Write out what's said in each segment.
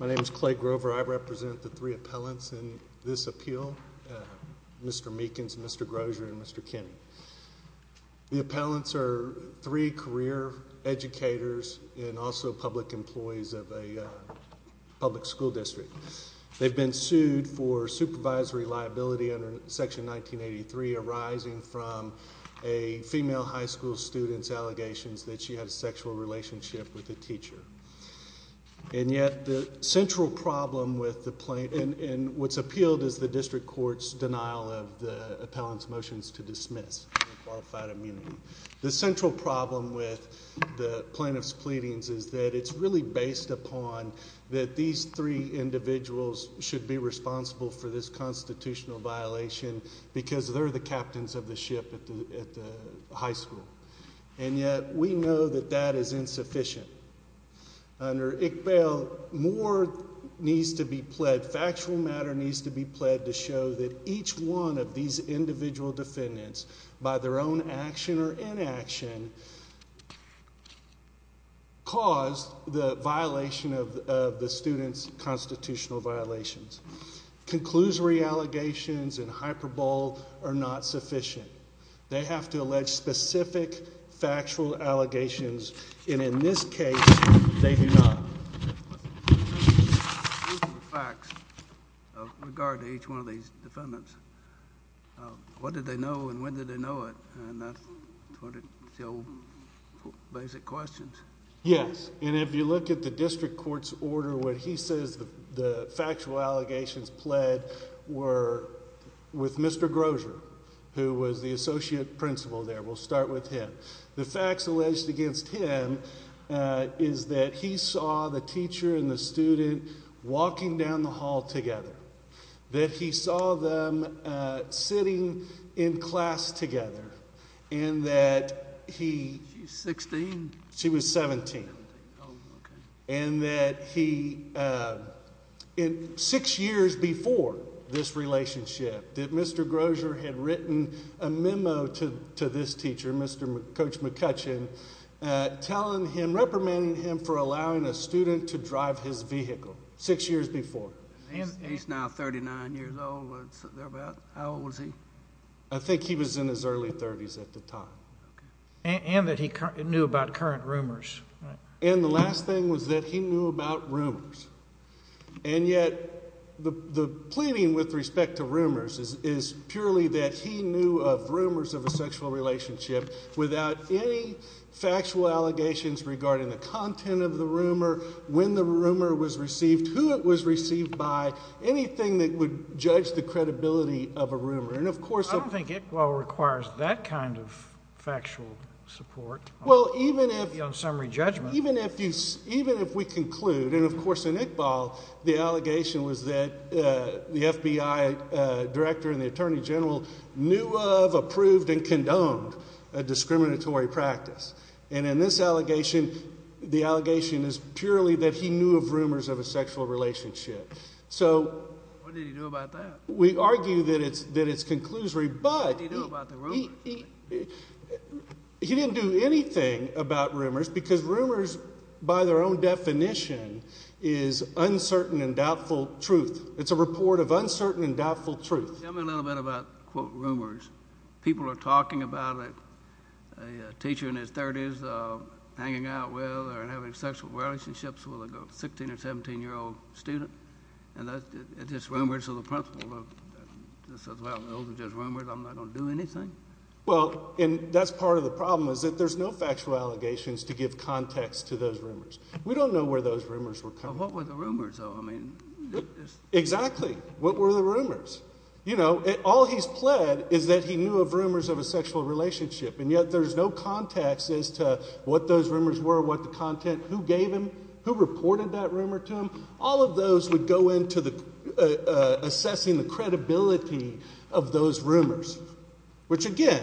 My name is Clay Grover. I represent the three appellants in this appeal, Mr. Meekins, Mr. Grosier, and Mr. Kinney. The appellants are three career educators and also public employees of a public school district. They've been sued for supervisory liability under Section 1983 arising from a female high school student's allegations that she had a sexual relationship with a teacher. And yet the central problem with the plaintiff, and what's appealed is the district court's denial of the appellant's motions to dismiss unqualified immunity. The central problem with the plaintiff's pleadings is that it's really based upon that these three individuals should be responsible for this constitutional violation because they're the captains of the ship at the high school. And yet we know that that is insufficient. Under ICPEL, more needs to be pledged, factual matter needs to be pledged to show that each one of these individual defendants, by their own action or inaction, caused the violation of the student's constitutional violations. Conclusory allegations and hyperbole are not sufficient. They have to allege specific factual allegations, and in this case, they do not. What are the facts with regard to each one of these defendants? What did they know and when did they know it? And that's sort of the old basic questions. Yes, and if you look at the district court's order, what he says the factual allegations pled were with Mr. Grosier, who was the associate principal there. We'll start with him. The facts alleged against him is that he saw the teacher and the student walking down the hall together. That he saw them sitting in class together. And that he... She's 16. She was 17. And that he, six years before this relationship, that Mr. Grosier had written a memo to this teacher, Mr. Coach McCutcheon, telling him, reprimanding him for allowing a student to drive his vehicle, six years before. He's now 39 years old. How old was he? I think he was in his early 30s at the time. And that he knew about current rumors. And the last thing was that he knew about rumors. And yet, the pleading with respect to rumors is purely that he knew of rumors of a sexual relationship without any factual allegations regarding the content of the rumor, when the rumor was received, who it was received by, anything that would judge the credibility of a rumor. And of course... I don't think Iqbal requires that kind of factual support on summary judgment. Even if we conclude, and of course in Iqbal, the allegation was that the FBI director and the attorney general knew of, approved, and condoned a discriminatory practice. And in this allegation, the allegation is purely that he knew of rumors of a sexual relationship. So... What did he do about that? We argue that it's conclusory, but... What did he do about the rumors? He didn't do anything about rumors, because rumors, by their own definition, is uncertain and doubtful truth. It's a report of uncertain and doubtful truth. Tell me a little bit about, quote, rumors. People are talking about a teacher in his 30s hanging out with or having sexual relationships with a 16 or 17-year-old student. And it's just rumors, so the principal says, well, those are just rumors. I'm not going to do anything. Well, and that's part of the problem, is that there's no factual allegations to give context to those rumors. We don't know where those rumors were coming from. Well, what were the rumors, though? Exactly. What were the rumors? You know, all he's pled is that he knew of rumors of a sexual relationship. And yet there's no context as to what those rumors were, what the content, who gave them, who reported that rumor to him. All of those would go into assessing the credibility of those rumors, which, again,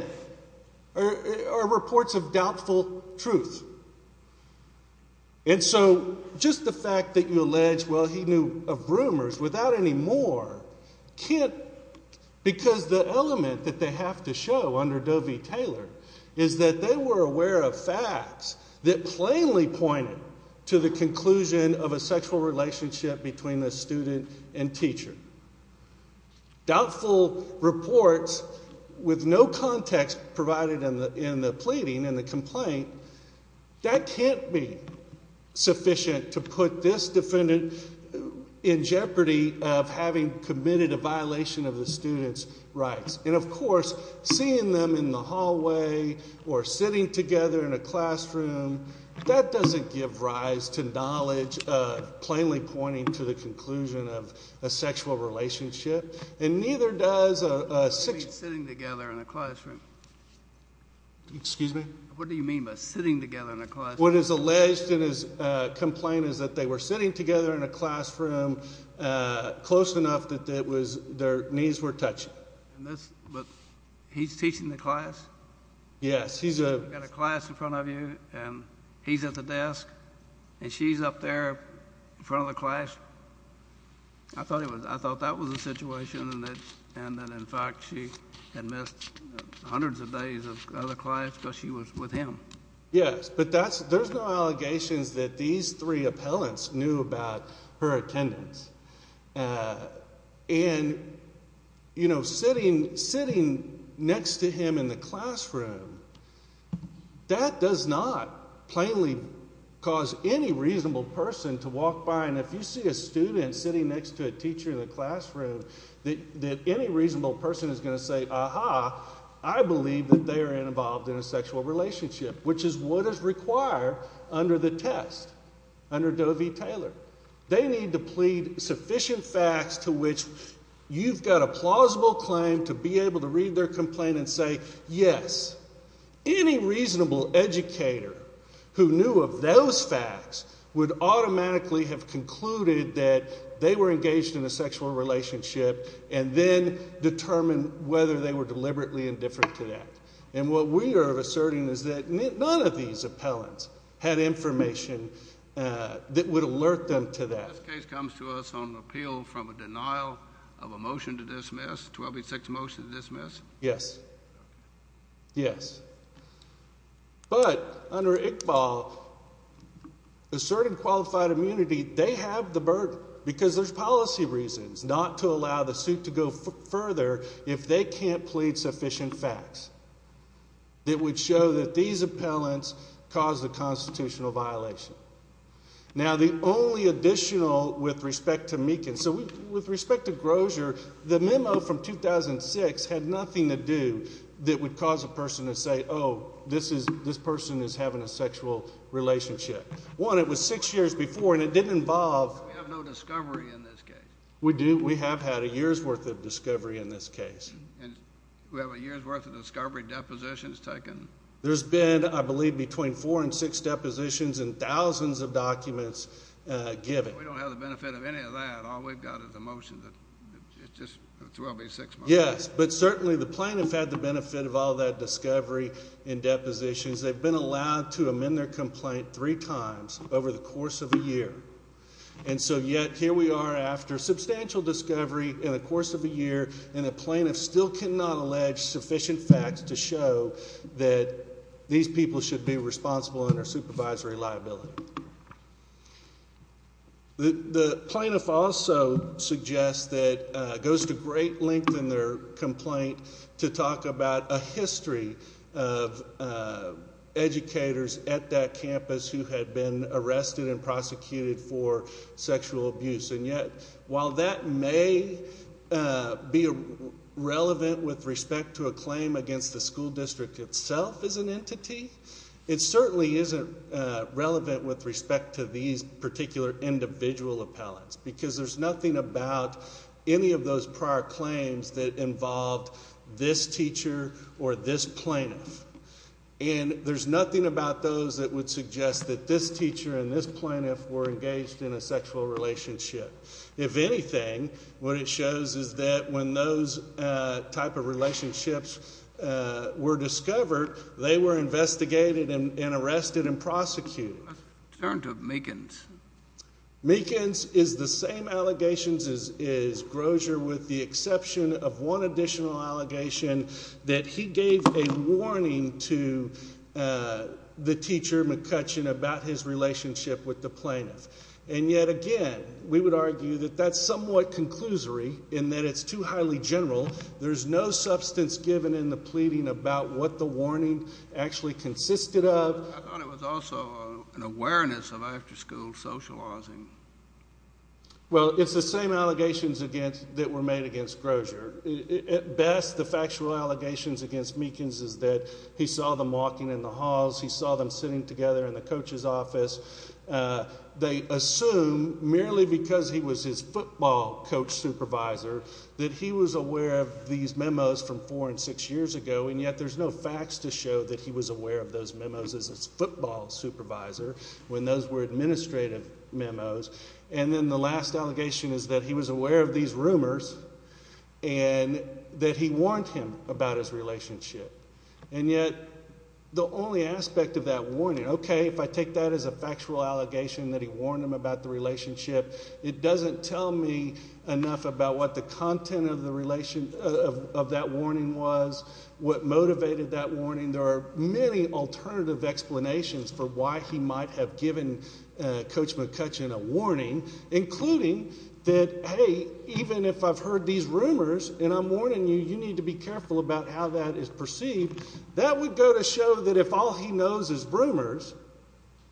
are reports of doubtful truth. And so just the fact that you allege, well, he knew of rumors, without any more, can't because the element that they have to show under Doe v. Taylor is that they were aware of facts that plainly pointed to the conclusion of a sexual relationship between the student and teacher. Doubtful reports with no context provided in the pleading and the complaint, that can't be sufficient to put this defendant in jeopardy of having committed a violation of the student's rights. And, of course, seeing them in the hallway or sitting together in a classroom, that doesn't give rise to knowledge plainly pointing to the conclusion of a sexual relationship. And neither does a... What do you mean, sitting together in a classroom? Excuse me? What do you mean by sitting together in a classroom? What is alleged in his complaint is that they were sitting together in a classroom close enough that their knees were touching. But he's teaching the class? Yes, he's a... You've got a class in front of you, and he's at the desk, and she's up there in front of the class. I thought that was the situation, and that, in fact, she had missed hundreds of days of the class because she was with him. Yes, but there's no allegations that these three appellants knew about her attendance. And, you know, sitting next to him in the classroom, that does not plainly cause any reasonable person to walk by, and if you see a student sitting next to a teacher in the classroom, that any reasonable person is going to say, to which you've got a plausible claim to be able to read their complaint and say, yes, any reasonable educator who knew of those facts would automatically have concluded that they were engaged in a sexual relationship and then determine whether they were deliberately indifferent to that. And what we are asserting is that none of these appellants had information that would alert them to that. This case comes to us on appeal from a denial of a motion to dismiss, 1286 motion to dismiss? Yes. Yes. But under Iqbal, asserted qualified immunity, they have the burden, because there's policy reasons, not to allow the suit to go further if they can't plead sufficient facts. It would show that these appellants caused a constitutional violation. Now, the only additional with respect to Meekin, so with respect to Grosier, the memo from 2006 had nothing to do that would cause a person to say, oh, this person is having a sexual relationship. One, it was six years before, and it didn't involve. We have no discovery in this case. We do. We have had a year's worth of discovery in this case. And we have a year's worth of discovery depositions taken? There's been, I believe, between four and six depositions and thousands of documents given. We don't have the benefit of any of that. All we've got is a motion that just 1286 motion. Yes, but certainly the plaintiff had the benefit of all that discovery and depositions. They've been allowed to amend their complaint three times over the course of a year. And so yet here we are after substantial discovery in the course of a year, and a plaintiff still cannot allege sufficient facts to show that these people should be responsible under supervisory liability. The plaintiff also suggests that it goes to great length in their complaint to talk about a history of educators at that campus who had been arrested and prosecuted for sexual abuse. And yet while that may be relevant with respect to a claim against the school district itself as an entity, it certainly isn't relevant with respect to these particular individual appellants because there's nothing about any of those prior claims that involved this teacher or this plaintiff. And there's nothing about those that would suggest that this teacher and this plaintiff were engaged in a sexual relationship. If anything, what it shows is that when those type of relationships were discovered, they were investigated and arrested and prosecuted. Let's turn to Meekins. Meekins is the same allegations as Grosier with the exception of one additional allegation that he gave a warning to the teacher, McCutcheon, about his relationship with the plaintiff. And yet again, we would argue that that's somewhat conclusory in that it's too highly general. There's no substance given in the pleading about what the warning actually consisted of. I thought it was also an awareness of after-school socializing. Well, it's the same allegations that were made against Grosier. At best, the factual allegations against Meekins is that he saw them walking in the halls, he saw them sitting together in the coach's office. They assume merely because he was his football coach supervisor that he was aware of these memos from four and six years ago, and yet there's no facts to show that he was aware of those memos as his football supervisor when those were administrative memos. And then the last allegation is that he was aware of these rumors and that he warned him about his relationship. And yet the only aspect of that warning, okay, if I take that as a factual allegation that he warned him about the relationship, it doesn't tell me enough about what the content of that warning was, what motivated that warning. There are many alternative explanations for why he might have given Coach McCutcheon a warning, including that, hey, even if I've heard these rumors and I'm warning you, you need to be careful about how that is perceived. That would go to show that if all he knows is rumors,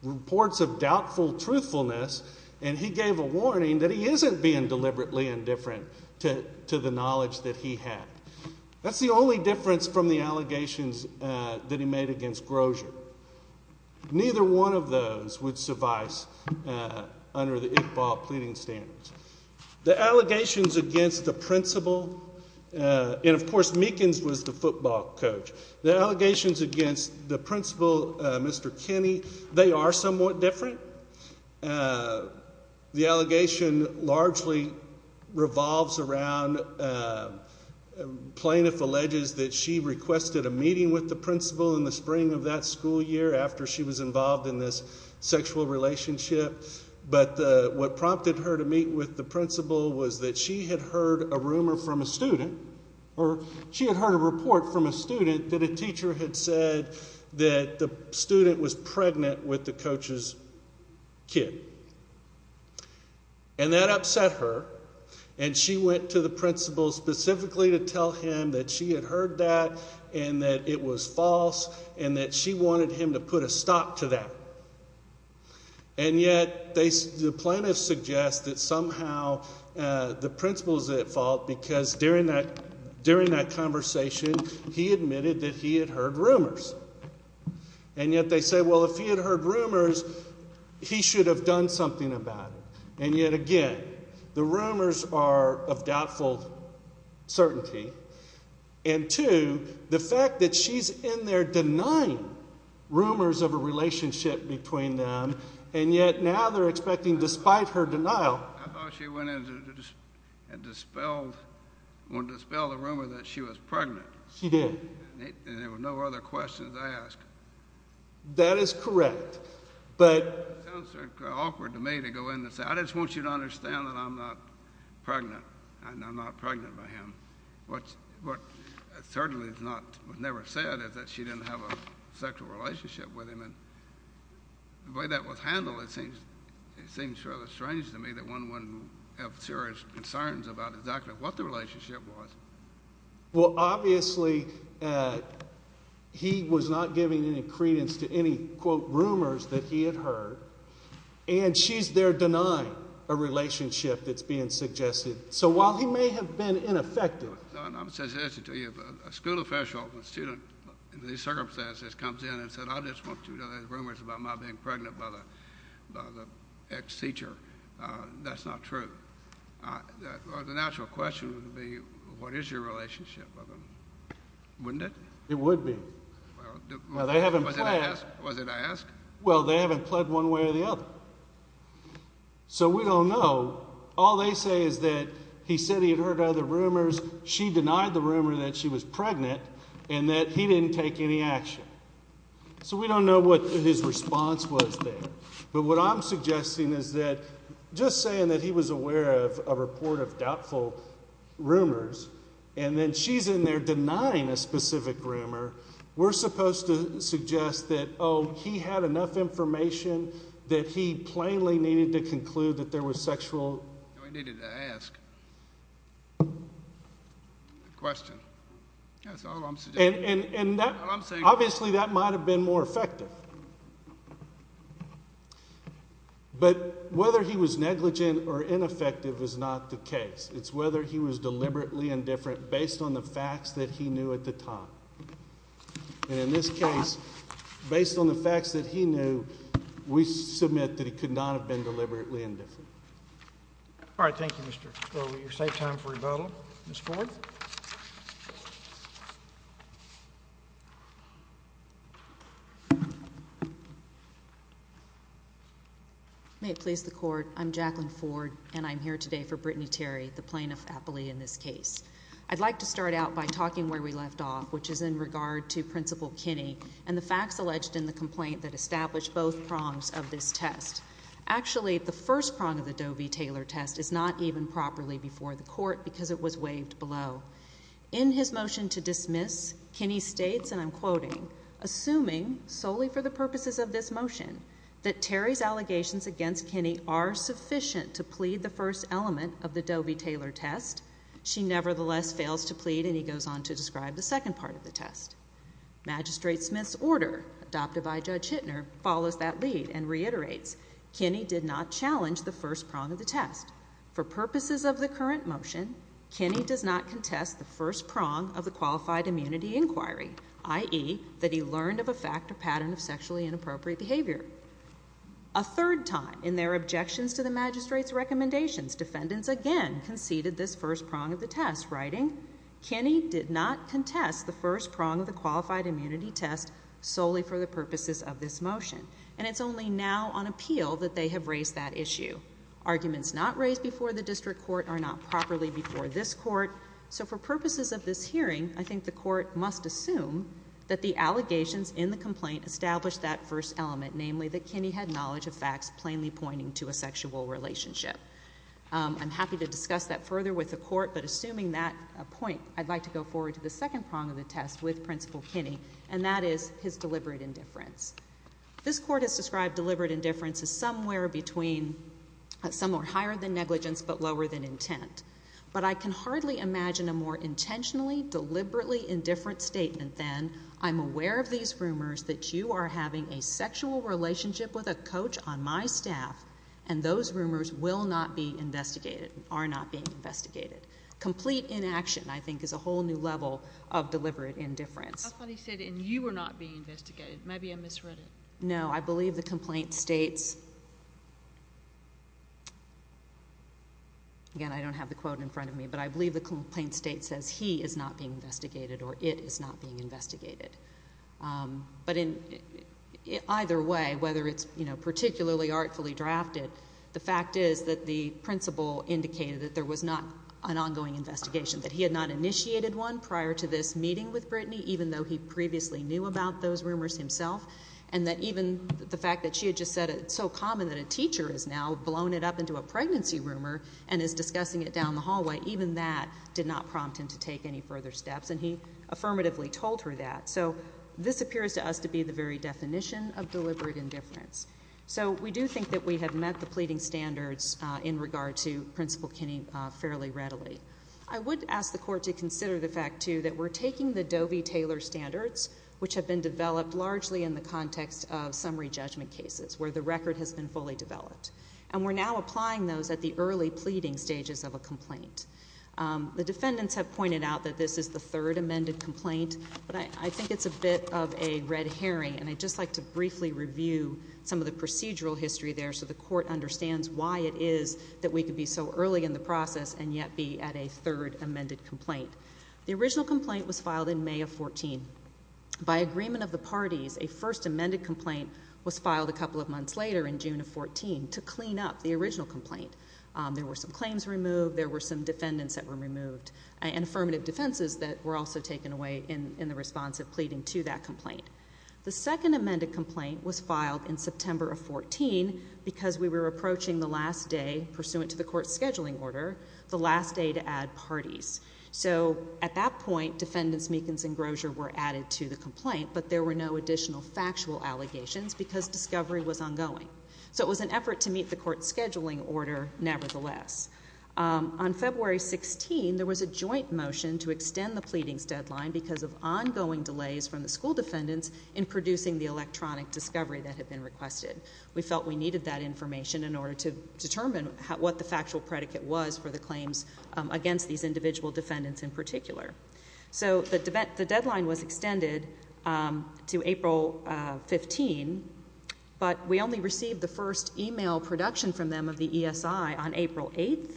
reports of doubtful truthfulness, and he gave a warning, that he isn't being deliberately indifferent to the knowledge that he had. That's the only difference from the allegations that he made against Grosier. Neither one of those would suffice under the Iqbal pleading standards. The allegations against the principal, and, of course, Meekins was the football coach. The allegations against the principal, Mr. Kinney, they are somewhat different. The allegation largely revolves around plaintiff alleges that she requested a meeting with the principal in the spring of that school year after she was involved in this sexual relationship. But what prompted her to meet with the principal was that she had heard a rumor from a student, or she had heard a report from a student that a teacher had said that the student was pregnant with the coach's kid. And that upset her, and she went to the principal specifically to tell him that she had heard that and that it was false and that she wanted him to put a stop to that. And yet the plaintiff suggests that somehow the principal is at fault because during that conversation he admitted that he had heard rumors. And yet they say, well, if he had heard rumors, he should have done something about it. And yet again, the rumors are of doubtful certainty. And two, the fact that she's in there denying rumors of a relationship between them, and yet now they're expecting despite her denial. I thought she went in and dispelled the rumor that she was pregnant. She did. And there were no other questions asked. That is correct. It sounds awkward to me to go in and say, I just want you to understand that I'm not pregnant, and I'm not pregnant by him. What certainly was never said is that she didn't have a sexual relationship with him. And the way that was handled, it seems rather strange to me that one wouldn't have serious concerns about exactly what the relationship was. Well, obviously, he was not giving any credence to any, quote, rumors that he had heard, and she's there denying a relationship that's being suggested. So while he may have been ineffective. I have a suggestion to you. A school official, a student in these circumstances, comes in and says, I just want you to know there's rumors about my being pregnant by the ex-teacher. That's not true. The natural question would be, what is your relationship with him? Wouldn't it? It would be. Was it asked? Well, they haven't pled one way or the other. So we don't know. All they say is that he said he had heard other rumors. She denied the rumor that she was pregnant and that he didn't take any action. So we don't know what his response was there. But what I'm suggesting is that just saying that he was aware of a report of doubtful rumors and then she's in there denying a specific rumor, we're supposed to suggest that, oh, he had enough information that he plainly needed to conclude that there was sexual. He needed to ask the question. That's all I'm suggesting. Obviously, that might have been more effective. But whether he was negligent or ineffective is not the case. It's whether he was deliberately indifferent based on the facts that he knew at the time. And in this case, based on the facts that he knew, we submit that he could not have been deliberately indifferent. All right, thank you, Mr. Crowley. You're safe time for rebuttal. Ms. Ford? May it please the Court. I'm Jacqueline Ford, and I'm here today for Brittany Terry, the plaintiff appellee in this case. I'd like to start out by talking where we left off, which is in regard to Principal Kinney and the facts alleged in the complaint that established both prongs of this test. Actually, the first prong of the Doe v. Taylor test is not even properly before the Court because it was waived below. In his motion to dismiss, Kinney states, and I'm quoting, assuming solely for the purposes of this motion that Terry's allegations against Kinney are sufficient to plead the first element of the Doe v. Taylor test, she nevertheless fails to plead, and he goes on to describe the second part of the test. Magistrate Smith's order, adopted by Judge Hittner, follows that lead and reiterates, Kinney did not challenge the first prong of the test. For purposes of the current motion, Kinney does not contest the first prong of the qualified immunity inquiry, i.e., that he learned of a fact or pattern of sexually inappropriate behavior. A third time, in their objections to the magistrate's recommendations, defendants again conceded this first prong of the test, writing, Kinney did not contest the first prong of the qualified immunity test solely for the purposes of this motion, and it's only now on appeal that they have raised that issue. Arguments not raised before the District Court are not properly before this Court, so for purposes of this hearing, I think the Court must assume that the allegations in the complaint established that first element, namely that Kinney had knowledge of facts plainly pointing to a sexual relationship. I'm happy to discuss that further with the Court, but assuming that point, I'd like to go forward to the second prong of the test with Principal Kinney, and that is his deliberate indifference. This Court has described deliberate indifference as somewhere between, somewhere higher than negligence but lower than intent. But I can hardly imagine a more intentionally, deliberately indifferent statement than, I'm aware of these rumors that you are having a sexual relationship with a coach on my staff, and those rumors will not be investigated, are not being investigated. Complete inaction, I think, is a whole new level of deliberate indifference. How funny he said, and you were not being investigated. Maybe I misread it. No, I believe the complaint states, again, I don't have the quote in front of me, but I believe the complaint states he is not being investigated, or it is not being investigated. But either way, whether it's particularly artfully drafted, the fact is that the principal indicated that there was not an ongoing investigation, that he had not initiated one prior to this meeting with Brittany, even though he previously knew about those rumors himself, and that even the fact that she had just said it's so common that a teacher has now blown it up into a pregnancy rumor and is discussing it down the hallway, even that did not prompt him to take any further steps, and he affirmatively told her that. So this appears to us to be the very definition of deliberate indifference. So we do think that we have met the pleading standards in regard to Principal Kinney fairly readily. I would ask the Court to consider the fact, too, that we're taking the Doe v. Taylor standards, which have been developed largely in the context of summary judgment cases, where the record has been fully developed, and we're now applying those at the early pleading stages of a complaint. The defendants have pointed out that this is the third amended complaint, but I think it's a bit of a red herring, and I'd just like to briefly review some of the procedural history there so the Court understands why it is that we could be so early in the process and yet be at a third amended complaint. The original complaint was filed in May of 2014. By agreement of the parties, a first amended complaint was filed a couple of months later in June of 2014. to clean up the original complaint. There were some claims removed, there were some defendants that were removed, and affirmative defenses that were also taken away in the response of pleading to that complaint. The second amended complaint was filed in September of 2014 because we were approaching the last day, pursuant to the Court's scheduling order, the last day to add parties. So at that point, defendants Meekins and Grosier were added to the complaint, but there were no additional factual allegations because discovery was ongoing. So it was an effort to meet the Court's scheduling order nevertheless. On February 16, there was a joint motion to extend the pleadings deadline because of ongoing delays from the school defendants in producing the electronic discovery that had been requested. We felt we needed that information in order to determine what the factual predicate was for the claims against these individual defendants in particular. So the deadline was extended to April 15, but we only received the first e-mail production from them of the ESI on April 8,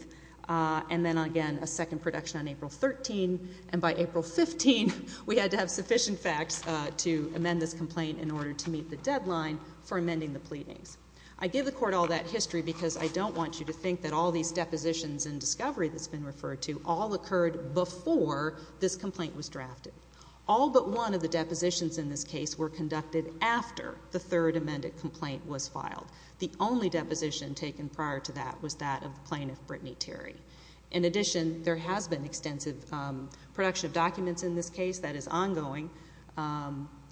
and then again a second production on April 13, and by April 15 we had to have sufficient facts to amend this complaint in order to meet the deadline for amending the pleadings. I give the Court all that history because I don't want you to think that all these depositions and discovery that's been referred to all occurred before this complaint was drafted. All but one of the depositions in this case were conducted after the third amended complaint was filed. The only deposition taken prior to that was that of the plaintiff, Brittany Terry. In addition, there has been extensive production of documents in this case that is ongoing,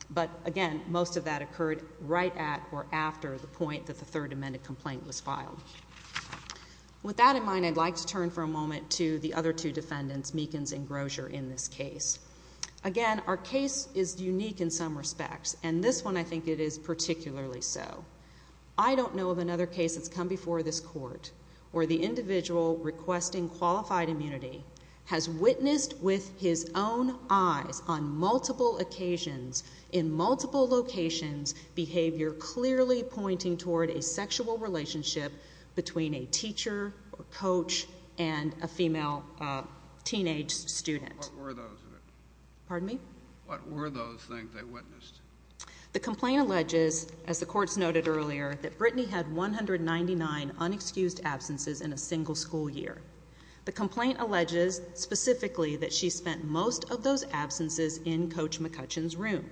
but again most of that occurred right at or after the point that the third amended complaint was filed. With that in mind, I'd like to turn for a moment to the other two defendants, Meekins and Grosier, in this case. Again, our case is unique in some respects, and this one I think it is particularly so. I don't know of another case that's come before this Court where the individual requesting qualified immunity has witnessed with his own eyes on multiple occasions, in multiple locations, behavior clearly pointing toward a sexual relationship between a teacher or coach and a female teenage student. What were those things they witnessed? The complaint alleges, as the Court's noted earlier, that Brittany had 199 unexcused absences in a single school year. The complaint alleges specifically that she spent most of those absences in Coach McCutcheon's room.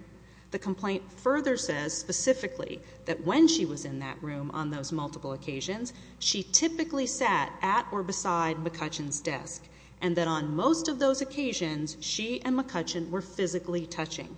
The complaint further says specifically that when she was in that room on those multiple occasions, she typically sat at or beside McCutcheon's desk, and that on most of those occasions she and McCutcheon were physically touching.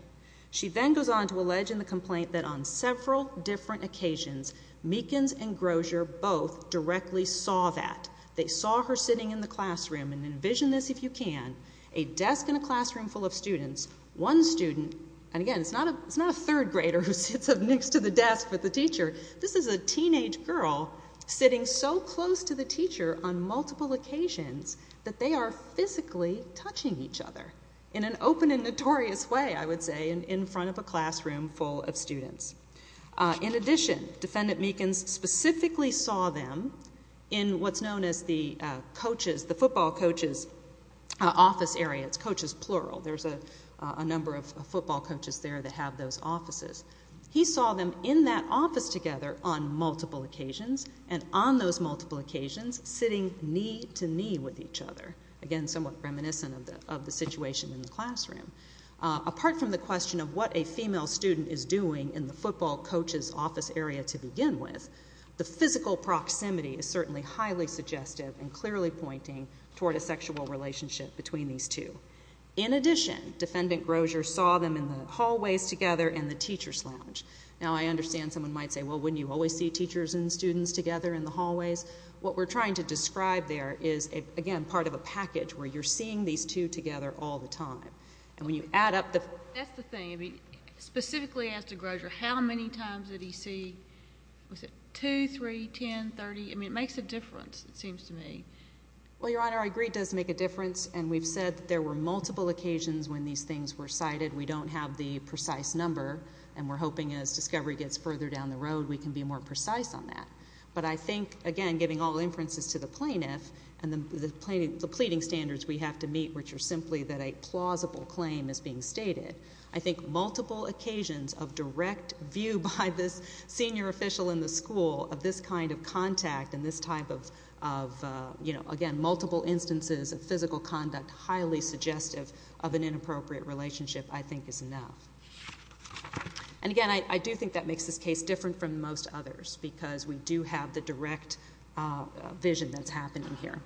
She then goes on to allege in the complaint that on several different occasions, Meekins and Grosier both directly saw that. They saw her sitting in the classroom, and envision this if you can, a desk and a classroom full of students, one student. And again, it's not a third grader who sits up next to the desk with the teacher. This is a teenage girl sitting so close to the teacher on multiple occasions that they are physically touching each other in an open and notorious way, I would say, in front of a classroom full of students. In addition, Defendant Meekins specifically saw them in what's known as the football coaches office area. It's coaches plural. There's a number of football coaches there that have those offices. He saw them in that office together on multiple occasions, and on those multiple occasions sitting knee to knee with each other, again, somewhat reminiscent of the situation in the classroom. Apart from the question of what a female student is doing in the football coaches office area to begin with, the physical proximity is certainly highly suggestive and clearly pointing toward a sexual relationship between these two. In addition, Defendant Grosier saw them in the hallways together in the teacher's lounge. Now, I understand someone might say, well, wouldn't you always see teachers and students together in the hallways? What we're trying to describe there is, again, part of a package where you're seeing these two together all the time. That's the thing. Specifically as to Grosier, how many times did he see? Was it 2, 3, 10, 30? It makes a difference, it seems to me. Well, Your Honor, I agree it does make a difference, and we've said that there were multiple occasions when these things were cited. We don't have the precise number, and we're hoping as discovery gets further down the road we can be more precise on that. But I think, again, giving all inferences to the plaintiff and the pleading standards we have to meet, which are simply that a plausible claim is being stated, I think multiple occasions of direct view by this senior official in the school of this kind of contact and this type of, again, multiple instances of physical conduct highly suggestive of an inappropriate relationship I think is enough. And again, I do think that makes this case different from most others because we do have the direct vision that's happening here.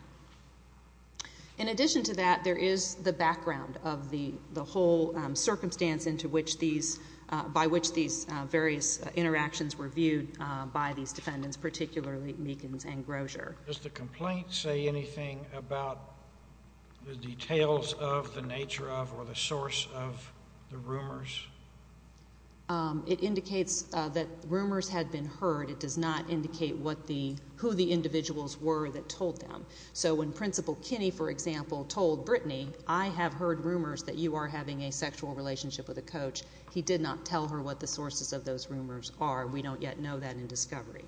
In addition to that, there is the background of the whole circumstance by which these various interactions were viewed by these defendants, particularly Meekins and Grosier. Does the complaint say anything about the details of, the nature of, or the source of the rumors? It indicates that rumors had been heard. It does not indicate who the individuals were that told them. So when Principal Kinney, for example, told Brittany, I have heard rumors that you are having a sexual relationship with a coach, he did not tell her what the sources of those rumors are. We don't yet know that in discovery.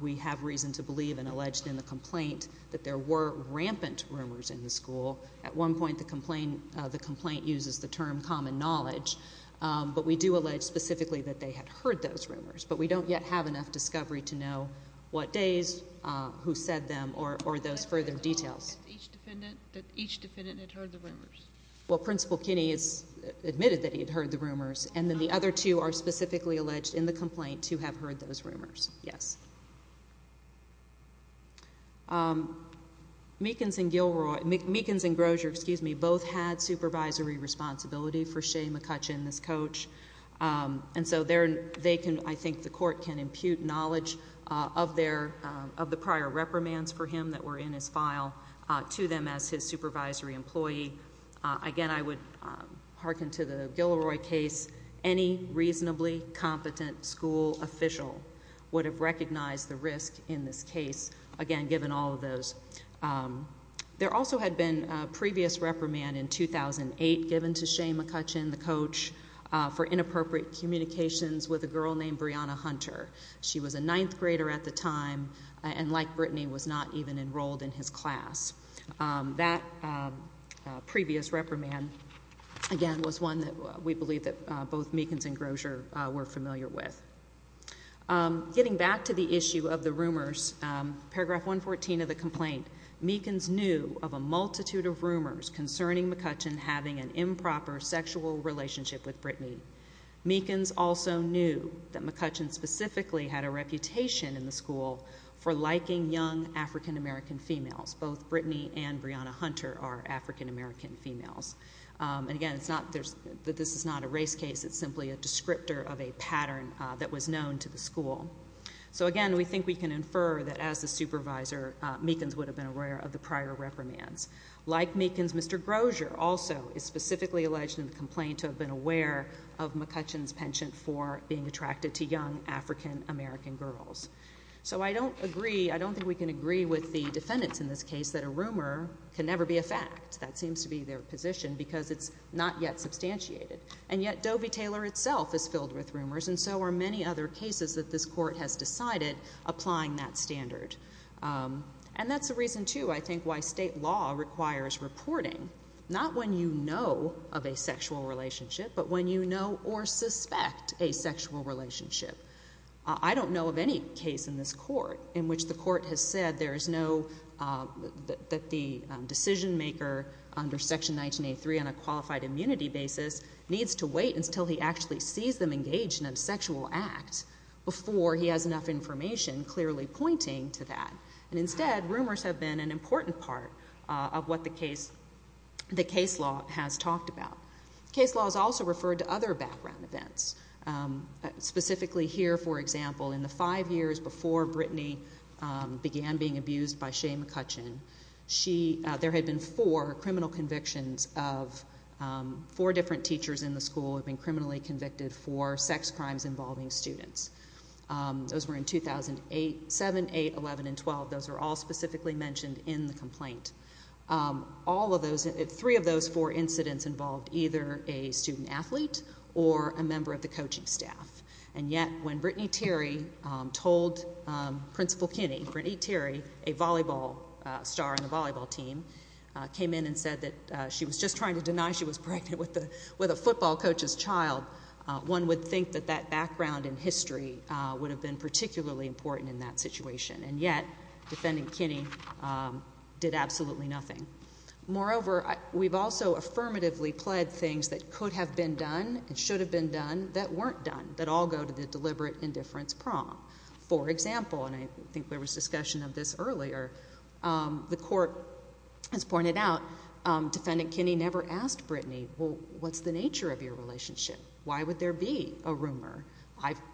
We have reason to believe and allege in the complaint that there were rampant rumors in the school. At one point the complaint uses the term common knowledge, but we do allege specifically that they had heard those rumors. But we don't yet have enough discovery to know what days, who said them, or those further details. Each defendant had heard the rumors? Well, Principal Kinney has admitted that he had heard the rumors, and then the other two are specifically alleged in the complaint to have heard those rumors, yes. Meekins and Grosier both had supervisory responsibility for Shea McCutcheon, this coach. And so I think the court can impute knowledge of the prior reprimands for him that were in his file to them as his supervisory employee. Again, I would hearken to the Gilroy case. Any reasonably competent school official would have recognized the risk in this case, again, given all of those. There also had been a previous reprimand in 2008 given to Shea McCutcheon, the coach, for inappropriate communications with a girl named Brianna Hunter. She was a ninth grader at the time and, like Brittany, was not even enrolled in his class. That previous reprimand, again, was one that we believe that both Meekins and Grosier were familiar with. Getting back to the issue of the rumors, paragraph 114 of the complaint, Meekins knew of a multitude of rumors concerning McCutcheon having an improper sexual relationship with Brittany. Meekins also knew that McCutcheon specifically had a reputation in the school for liking young African-American females. Both Brittany and Brianna Hunter are African-American females. Again, this is not a race case. It's simply a descriptor of a pattern that was known to the school. Again, we think we can infer that, as the supervisor, Meekins would have been aware of the prior reprimands. Like Meekins, Mr. Grosier also is specifically alleged in the complaint to have been aware of McCutcheon's penchant for being attracted to young African-American girls. I don't think we can agree with the defendants in this case that a rumor can never be a fact. That seems to be their position because it's not yet substantiated. And yet, Dovey-Taylor itself is filled with rumors, and so are many other cases that this court has decided applying that standard. And that's the reason, too, I think, why state law requires reporting, not when you know of a sexual relationship, but when you know or suspect a sexual relationship. I don't know of any case in this court in which the court has said that the decision-maker, under Section 1983, on a qualified immunity basis, needs to wait until he actually sees them engaged in a sexual act before he has enough information clearly pointing to that. And instead, rumors have been an important part of what the case law has talked about. Case law is also referred to other background events. Specifically here, for example, in the five years before Brittany began being abused by Shane McCutcheon, there had been four criminal convictions of four different teachers in the school who had been criminally convicted for sex crimes involving students. Those were in 2007, 2008, 2011, and 2012. Those are all specifically mentioned in the complaint. All of those, three of those four incidents involved either a student athlete or a member of the coaching staff. And yet, when Brittany Terry told Principal Kinney, Brittany Terry, a volleyball star on the volleyball team, came in and said that she was just trying to deny she was pregnant with a football coach's child, one would think that that background and history would have been particularly important in that situation. And yet, Defendant Kinney did absolutely nothing. Moreover, we've also affirmatively pled things that could have been done and should have been done that weren't done, that all go to the deliberate indifference prong. For example, and I think there was discussion of this earlier, the court has pointed out, Defendant Kinney never asked Brittany, well, what's the nature of your relationship? Why would there be a rumor?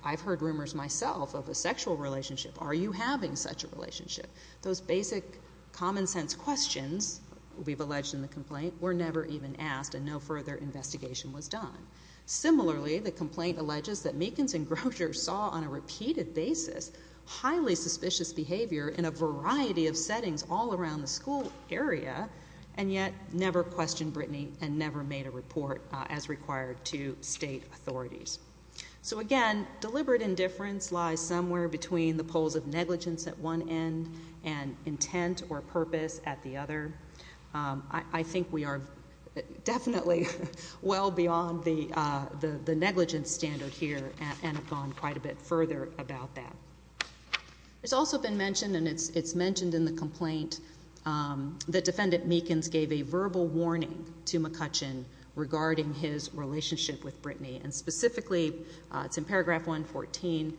I've heard rumors myself of a sexual relationship. Are you having such a relationship? Those basic common sense questions we've alleged in the complaint were never even asked and no further investigation was done. Similarly, the complaint alleges that Meekins and Grosher saw on a repeated basis highly suspicious behavior in a variety of settings all around the school area and yet never questioned Brittany and never made a report as required to state authorities. So again, deliberate indifference lies somewhere between the poles of negligence at one end and intent or purpose at the other. I think we are definitely well beyond the negligence standard here and have gone quite a bit further about that. It's also been mentioned, and it's mentioned in the complaint, that Defendant Meekins gave a verbal warning to McCutcheon regarding his relationship with Brittany and specifically, it's in paragraph 114,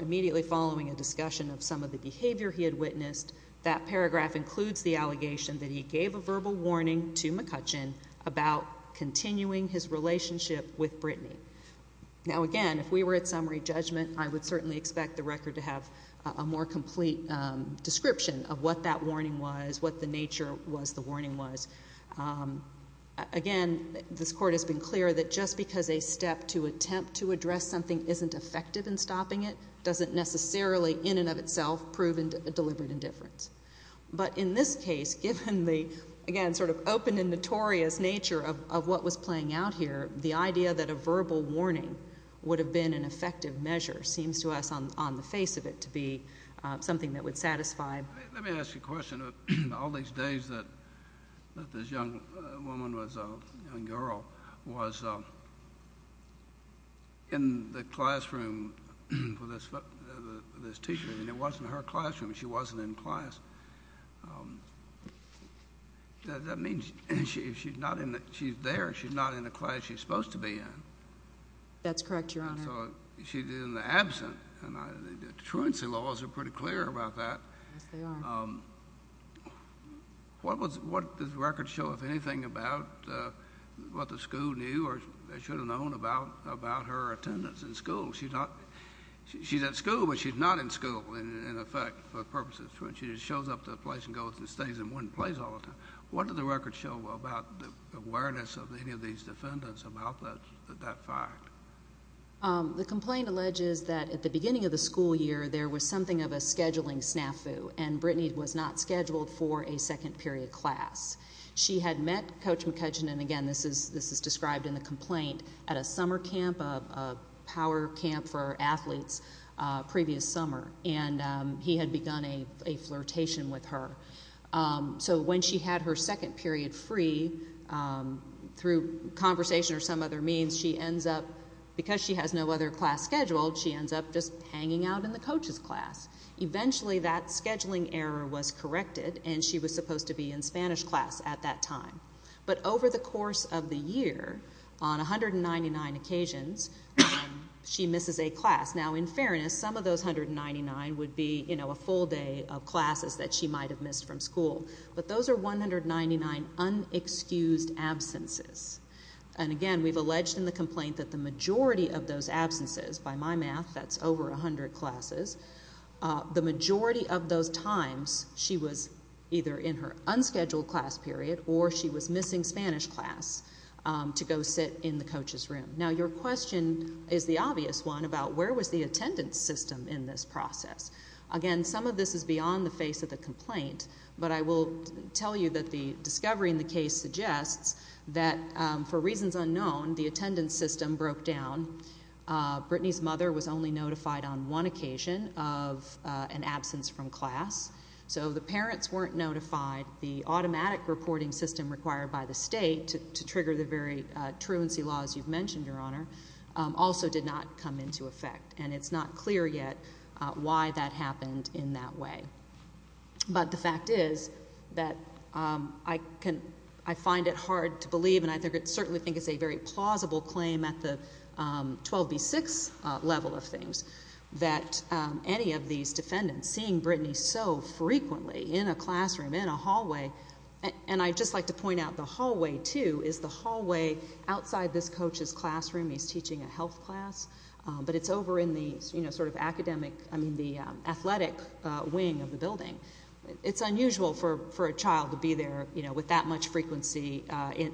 immediately following a discussion of some of the behavior he had witnessed, that paragraph includes the allegation that he gave a verbal warning to McCutcheon about continuing his relationship with Brittany. Now again, if we were at summary judgment, I would certainly expect the record to have a more complete description of what that warning was, what the nature was the warning was. Again, this Court has been clear that just because a step to attempt to address something isn't effective in stopping it doesn't necessarily in and of itself prove deliberate indifference. But in this case, given the, again, sort of open and notorious nature of what was playing out here, the idea that a verbal warning would have been an effective measure seems to us on the face of it to be something that would satisfy. Let me ask you a question. All these days that this young woman was a young girl was in the classroom with this teacher, and it wasn't her classroom. She wasn't in class. That means if she's there, she's not in the class she's supposed to be in. That's correct, Your Honor. So she's in the absent, and the truancy laws are pretty clear about that. Yes, they are. What does the record show, if anything, about what the school knew or should have known about her attendance in school? She's at school, but she's not in school, in effect, for purposes of truancy. She just shows up to a place and goes and stays in one place all the time. What does the record show about the awareness of any of these defendants about that fact? The complaint alleges that at the beginning of the school year, there was something of a scheduling snafu, and Brittany was not scheduled for a second period class. She had met Coach McCutcheon, and again, this is described in the complaint, at a summer camp, a power camp for athletes, previous summer, and he had begun a flirtation with her. So when she had her second period free, through conversation or some other means, she ends up, because she has no other class scheduled, she ends up just hanging out in the coach's class. Eventually, that scheduling error was corrected, and she was supposed to be in Spanish class at that time. But over the course of the year, on 199 occasions, she misses a class. Now, in fairness, some of those 199 would be, you know, a full day of classes that she might have missed from school. But those are 199 unexcused absences. And again, we've alleged in the complaint that the majority of those absences, by my math, that's over 100 classes, the majority of those times she was either in her unscheduled class period or she was missing Spanish class to go sit in the coach's room. Now, your question is the obvious one about where was the attendance system in this process. Again, some of this is beyond the face of the complaint, but I will tell you that the discovery in the case suggests that, for reasons unknown, the attendance system broke down. Brittany's mother was only notified on one occasion of an absence from class. So the parents weren't notified. The automatic reporting system required by the state to trigger the very truancy laws you've mentioned, Your Honor, also did not come into effect. And it's not clear yet why that happened in that way. But the fact is that I find it hard to believe, and I certainly think it's a very plausible claim at the 12B6 level of things, that any of these defendants seeing Brittany so frequently in a classroom, in a hallway, and I'd just like to point out the hallway, too, is the hallway outside this coach's classroom. Brittany's teaching a health class, but it's over in the sort of academic, I mean the athletic wing of the building. It's unusual for a child to be there with that much frequency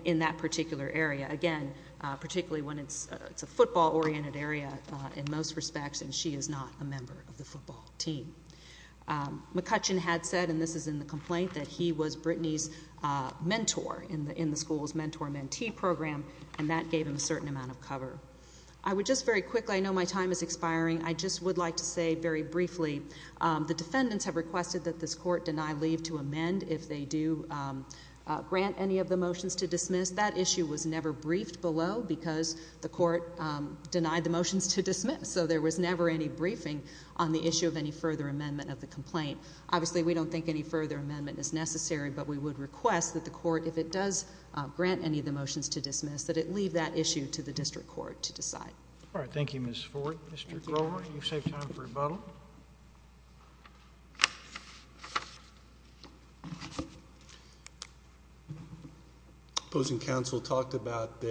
in that particular area. Again, particularly when it's a football-oriented area in most respects, and she is not a member of the football team. McCutcheon had said, and this is in the complaint, that he was Brittany's mentor in the school's mentor-mentee program, and that gave him a certain amount of cover. I would just very quickly, I know my time is expiring, I just would like to say very briefly, the defendants have requested that this court deny leave to amend if they do grant any of the motions to dismiss. That issue was never briefed below because the court denied the motions to dismiss, so there was never any briefing on the issue of any further amendment of the complaint. Obviously, we don't think any further amendment is necessary, but we would request that the court, if it does grant any of the motions to dismiss, that it leave that issue to the district court to decide. All right. Thank you, Ms. Ford. Mr. Grover, you've saved time for rebuttal. Opposing counsel talked about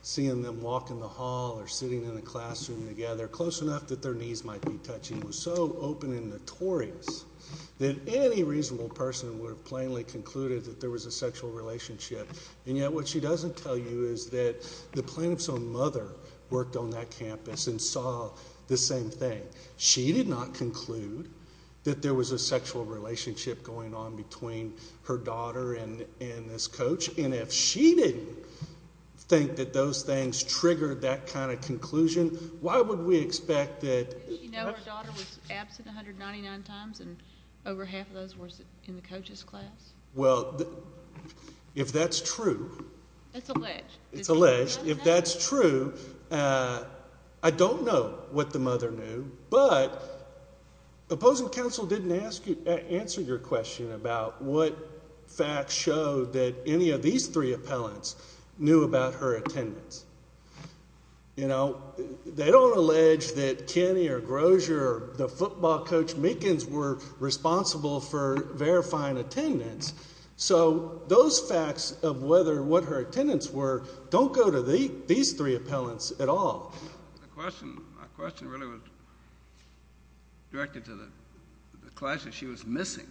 seeing them walk in the hall or sitting in a classroom together close enough that their knees might be touching that any reasonable person would have plainly concluded that there was a sexual relationship, and yet what she doesn't tell you is that the plaintiff's own mother worked on that campus and saw the same thing. She did not conclude that there was a sexual relationship going on between her daughter and this coach, and if she didn't think that those things triggered that kind of conclusion, why would we expect that Did she know her daughter was absent 199 times and over half of those were in the coach's class? Well, if that's true. That's alleged. It's alleged. If that's true, I don't know what the mother knew, but opposing counsel didn't answer your question about what facts showed that any of these three appellants knew about her attendance. You know, they don't allege that Kenny or Grosier or the football coach Meekins were responsible for verifying attendance, so those facts of what her attendance were don't go to these three appellants at all. The question really was directed to the class that she was missing,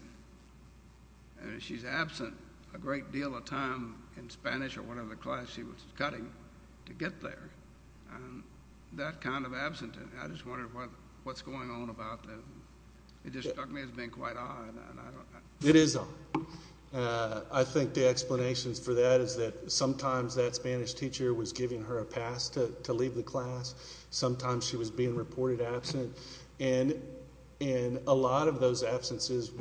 and if she's absent a great deal of time in Spanish or whatever class she was cutting to get there, and that kind of absenteeism, I just wondered what's going on about that. It just struck me as being quite odd. It is odd. I think the explanations for that is that sometimes that Spanish teacher was giving her a pass to leave the class. Sometimes she was being reported absent, and in a lot of those absences,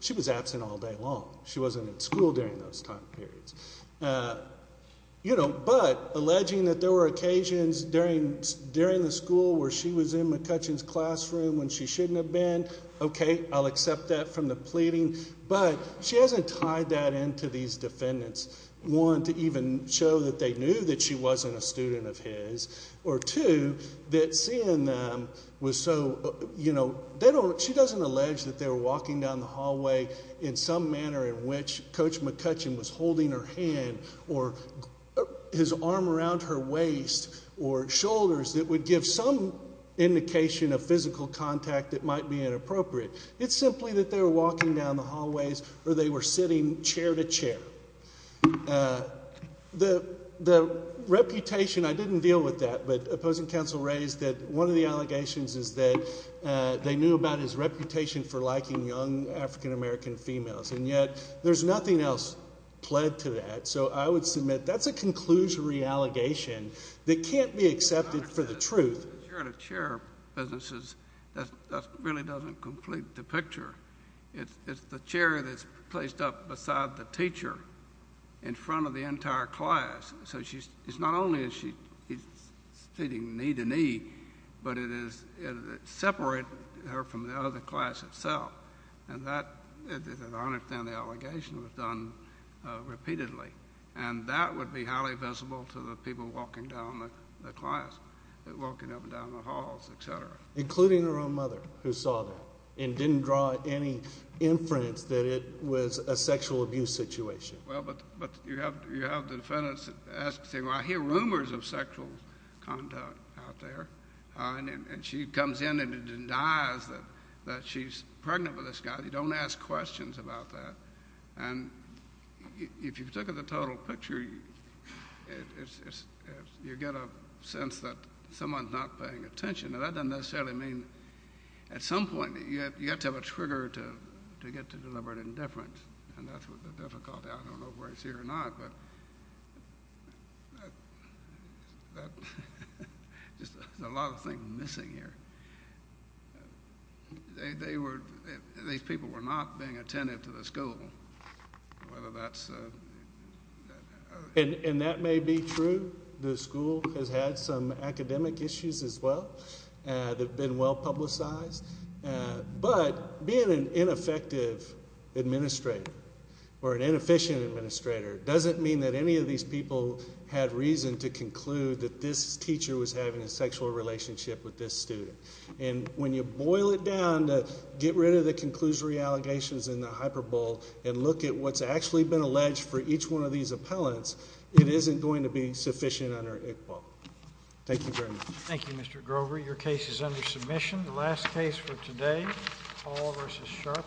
she was absent all day long. She wasn't at school during those time periods. But alleging that there were occasions during the school where she was in McCutcheon's classroom when she shouldn't have been, okay, I'll accept that from the pleading, but she hasn't tied that into these defendants, one, to even show that they knew that she wasn't a student of his, or two, that seeing them was so, you know, she doesn't allege that they were walking down the hallway in some manner in which Coach McCutcheon was holding her hand or his arm around her waist or shoulders that would give some indication of physical contact that might be inappropriate. It's simply that they were walking down the hallways or they were sitting chair to chair. The reputation, I didn't deal with that, but opposing counsel raised that one of the allegations is that they knew about his reputation for liking young African-American females, and yet there's nothing else pled to that. So I would submit that's a conclusory allegation that can't be accepted for the truth. Chair to chair businesses, that really doesn't complete the picture. It's the chair that's placed up beside the teacher in front of the entire class, so it's not only is she sitting knee to knee, but it separates her from the other class itself, and I understand the allegation was done repeatedly, and that would be highly visible to the people walking down the class, walking up and down the halls, et cetera. Including her own mother, who saw that and didn't draw any inference that it was a sexual abuse situation. Well, but you have the defendants asking, well, I hear rumors of sexual conduct out there, and she comes in and denies that she's pregnant with this guy. You don't ask questions about that, and if you took the total picture, you get a sense that someone's not paying attention. Now, that doesn't necessarily mean at some point you have to have a trigger to get to deliberate indifference, and that's the difficulty. I don't know whether it's here or not, but there's a lot of things missing here. These people were not being attentive to the school, whether that's... And that may be true. The school has had some academic issues as well that have been well publicized, but being an ineffective administrator or an inefficient administrator doesn't mean that any of these people had reason to conclude that this teacher was having a sexual relationship with this student. And when you boil it down to get rid of the conclusory allegations in the hyperbole and look at what's actually been alleged for each one of these appellants, it isn't going to be sufficient under ICPAW. Thank you very much. Thank you, Mr. Grover. Your case is under submission. The last case for today, Paul v. Sharpton.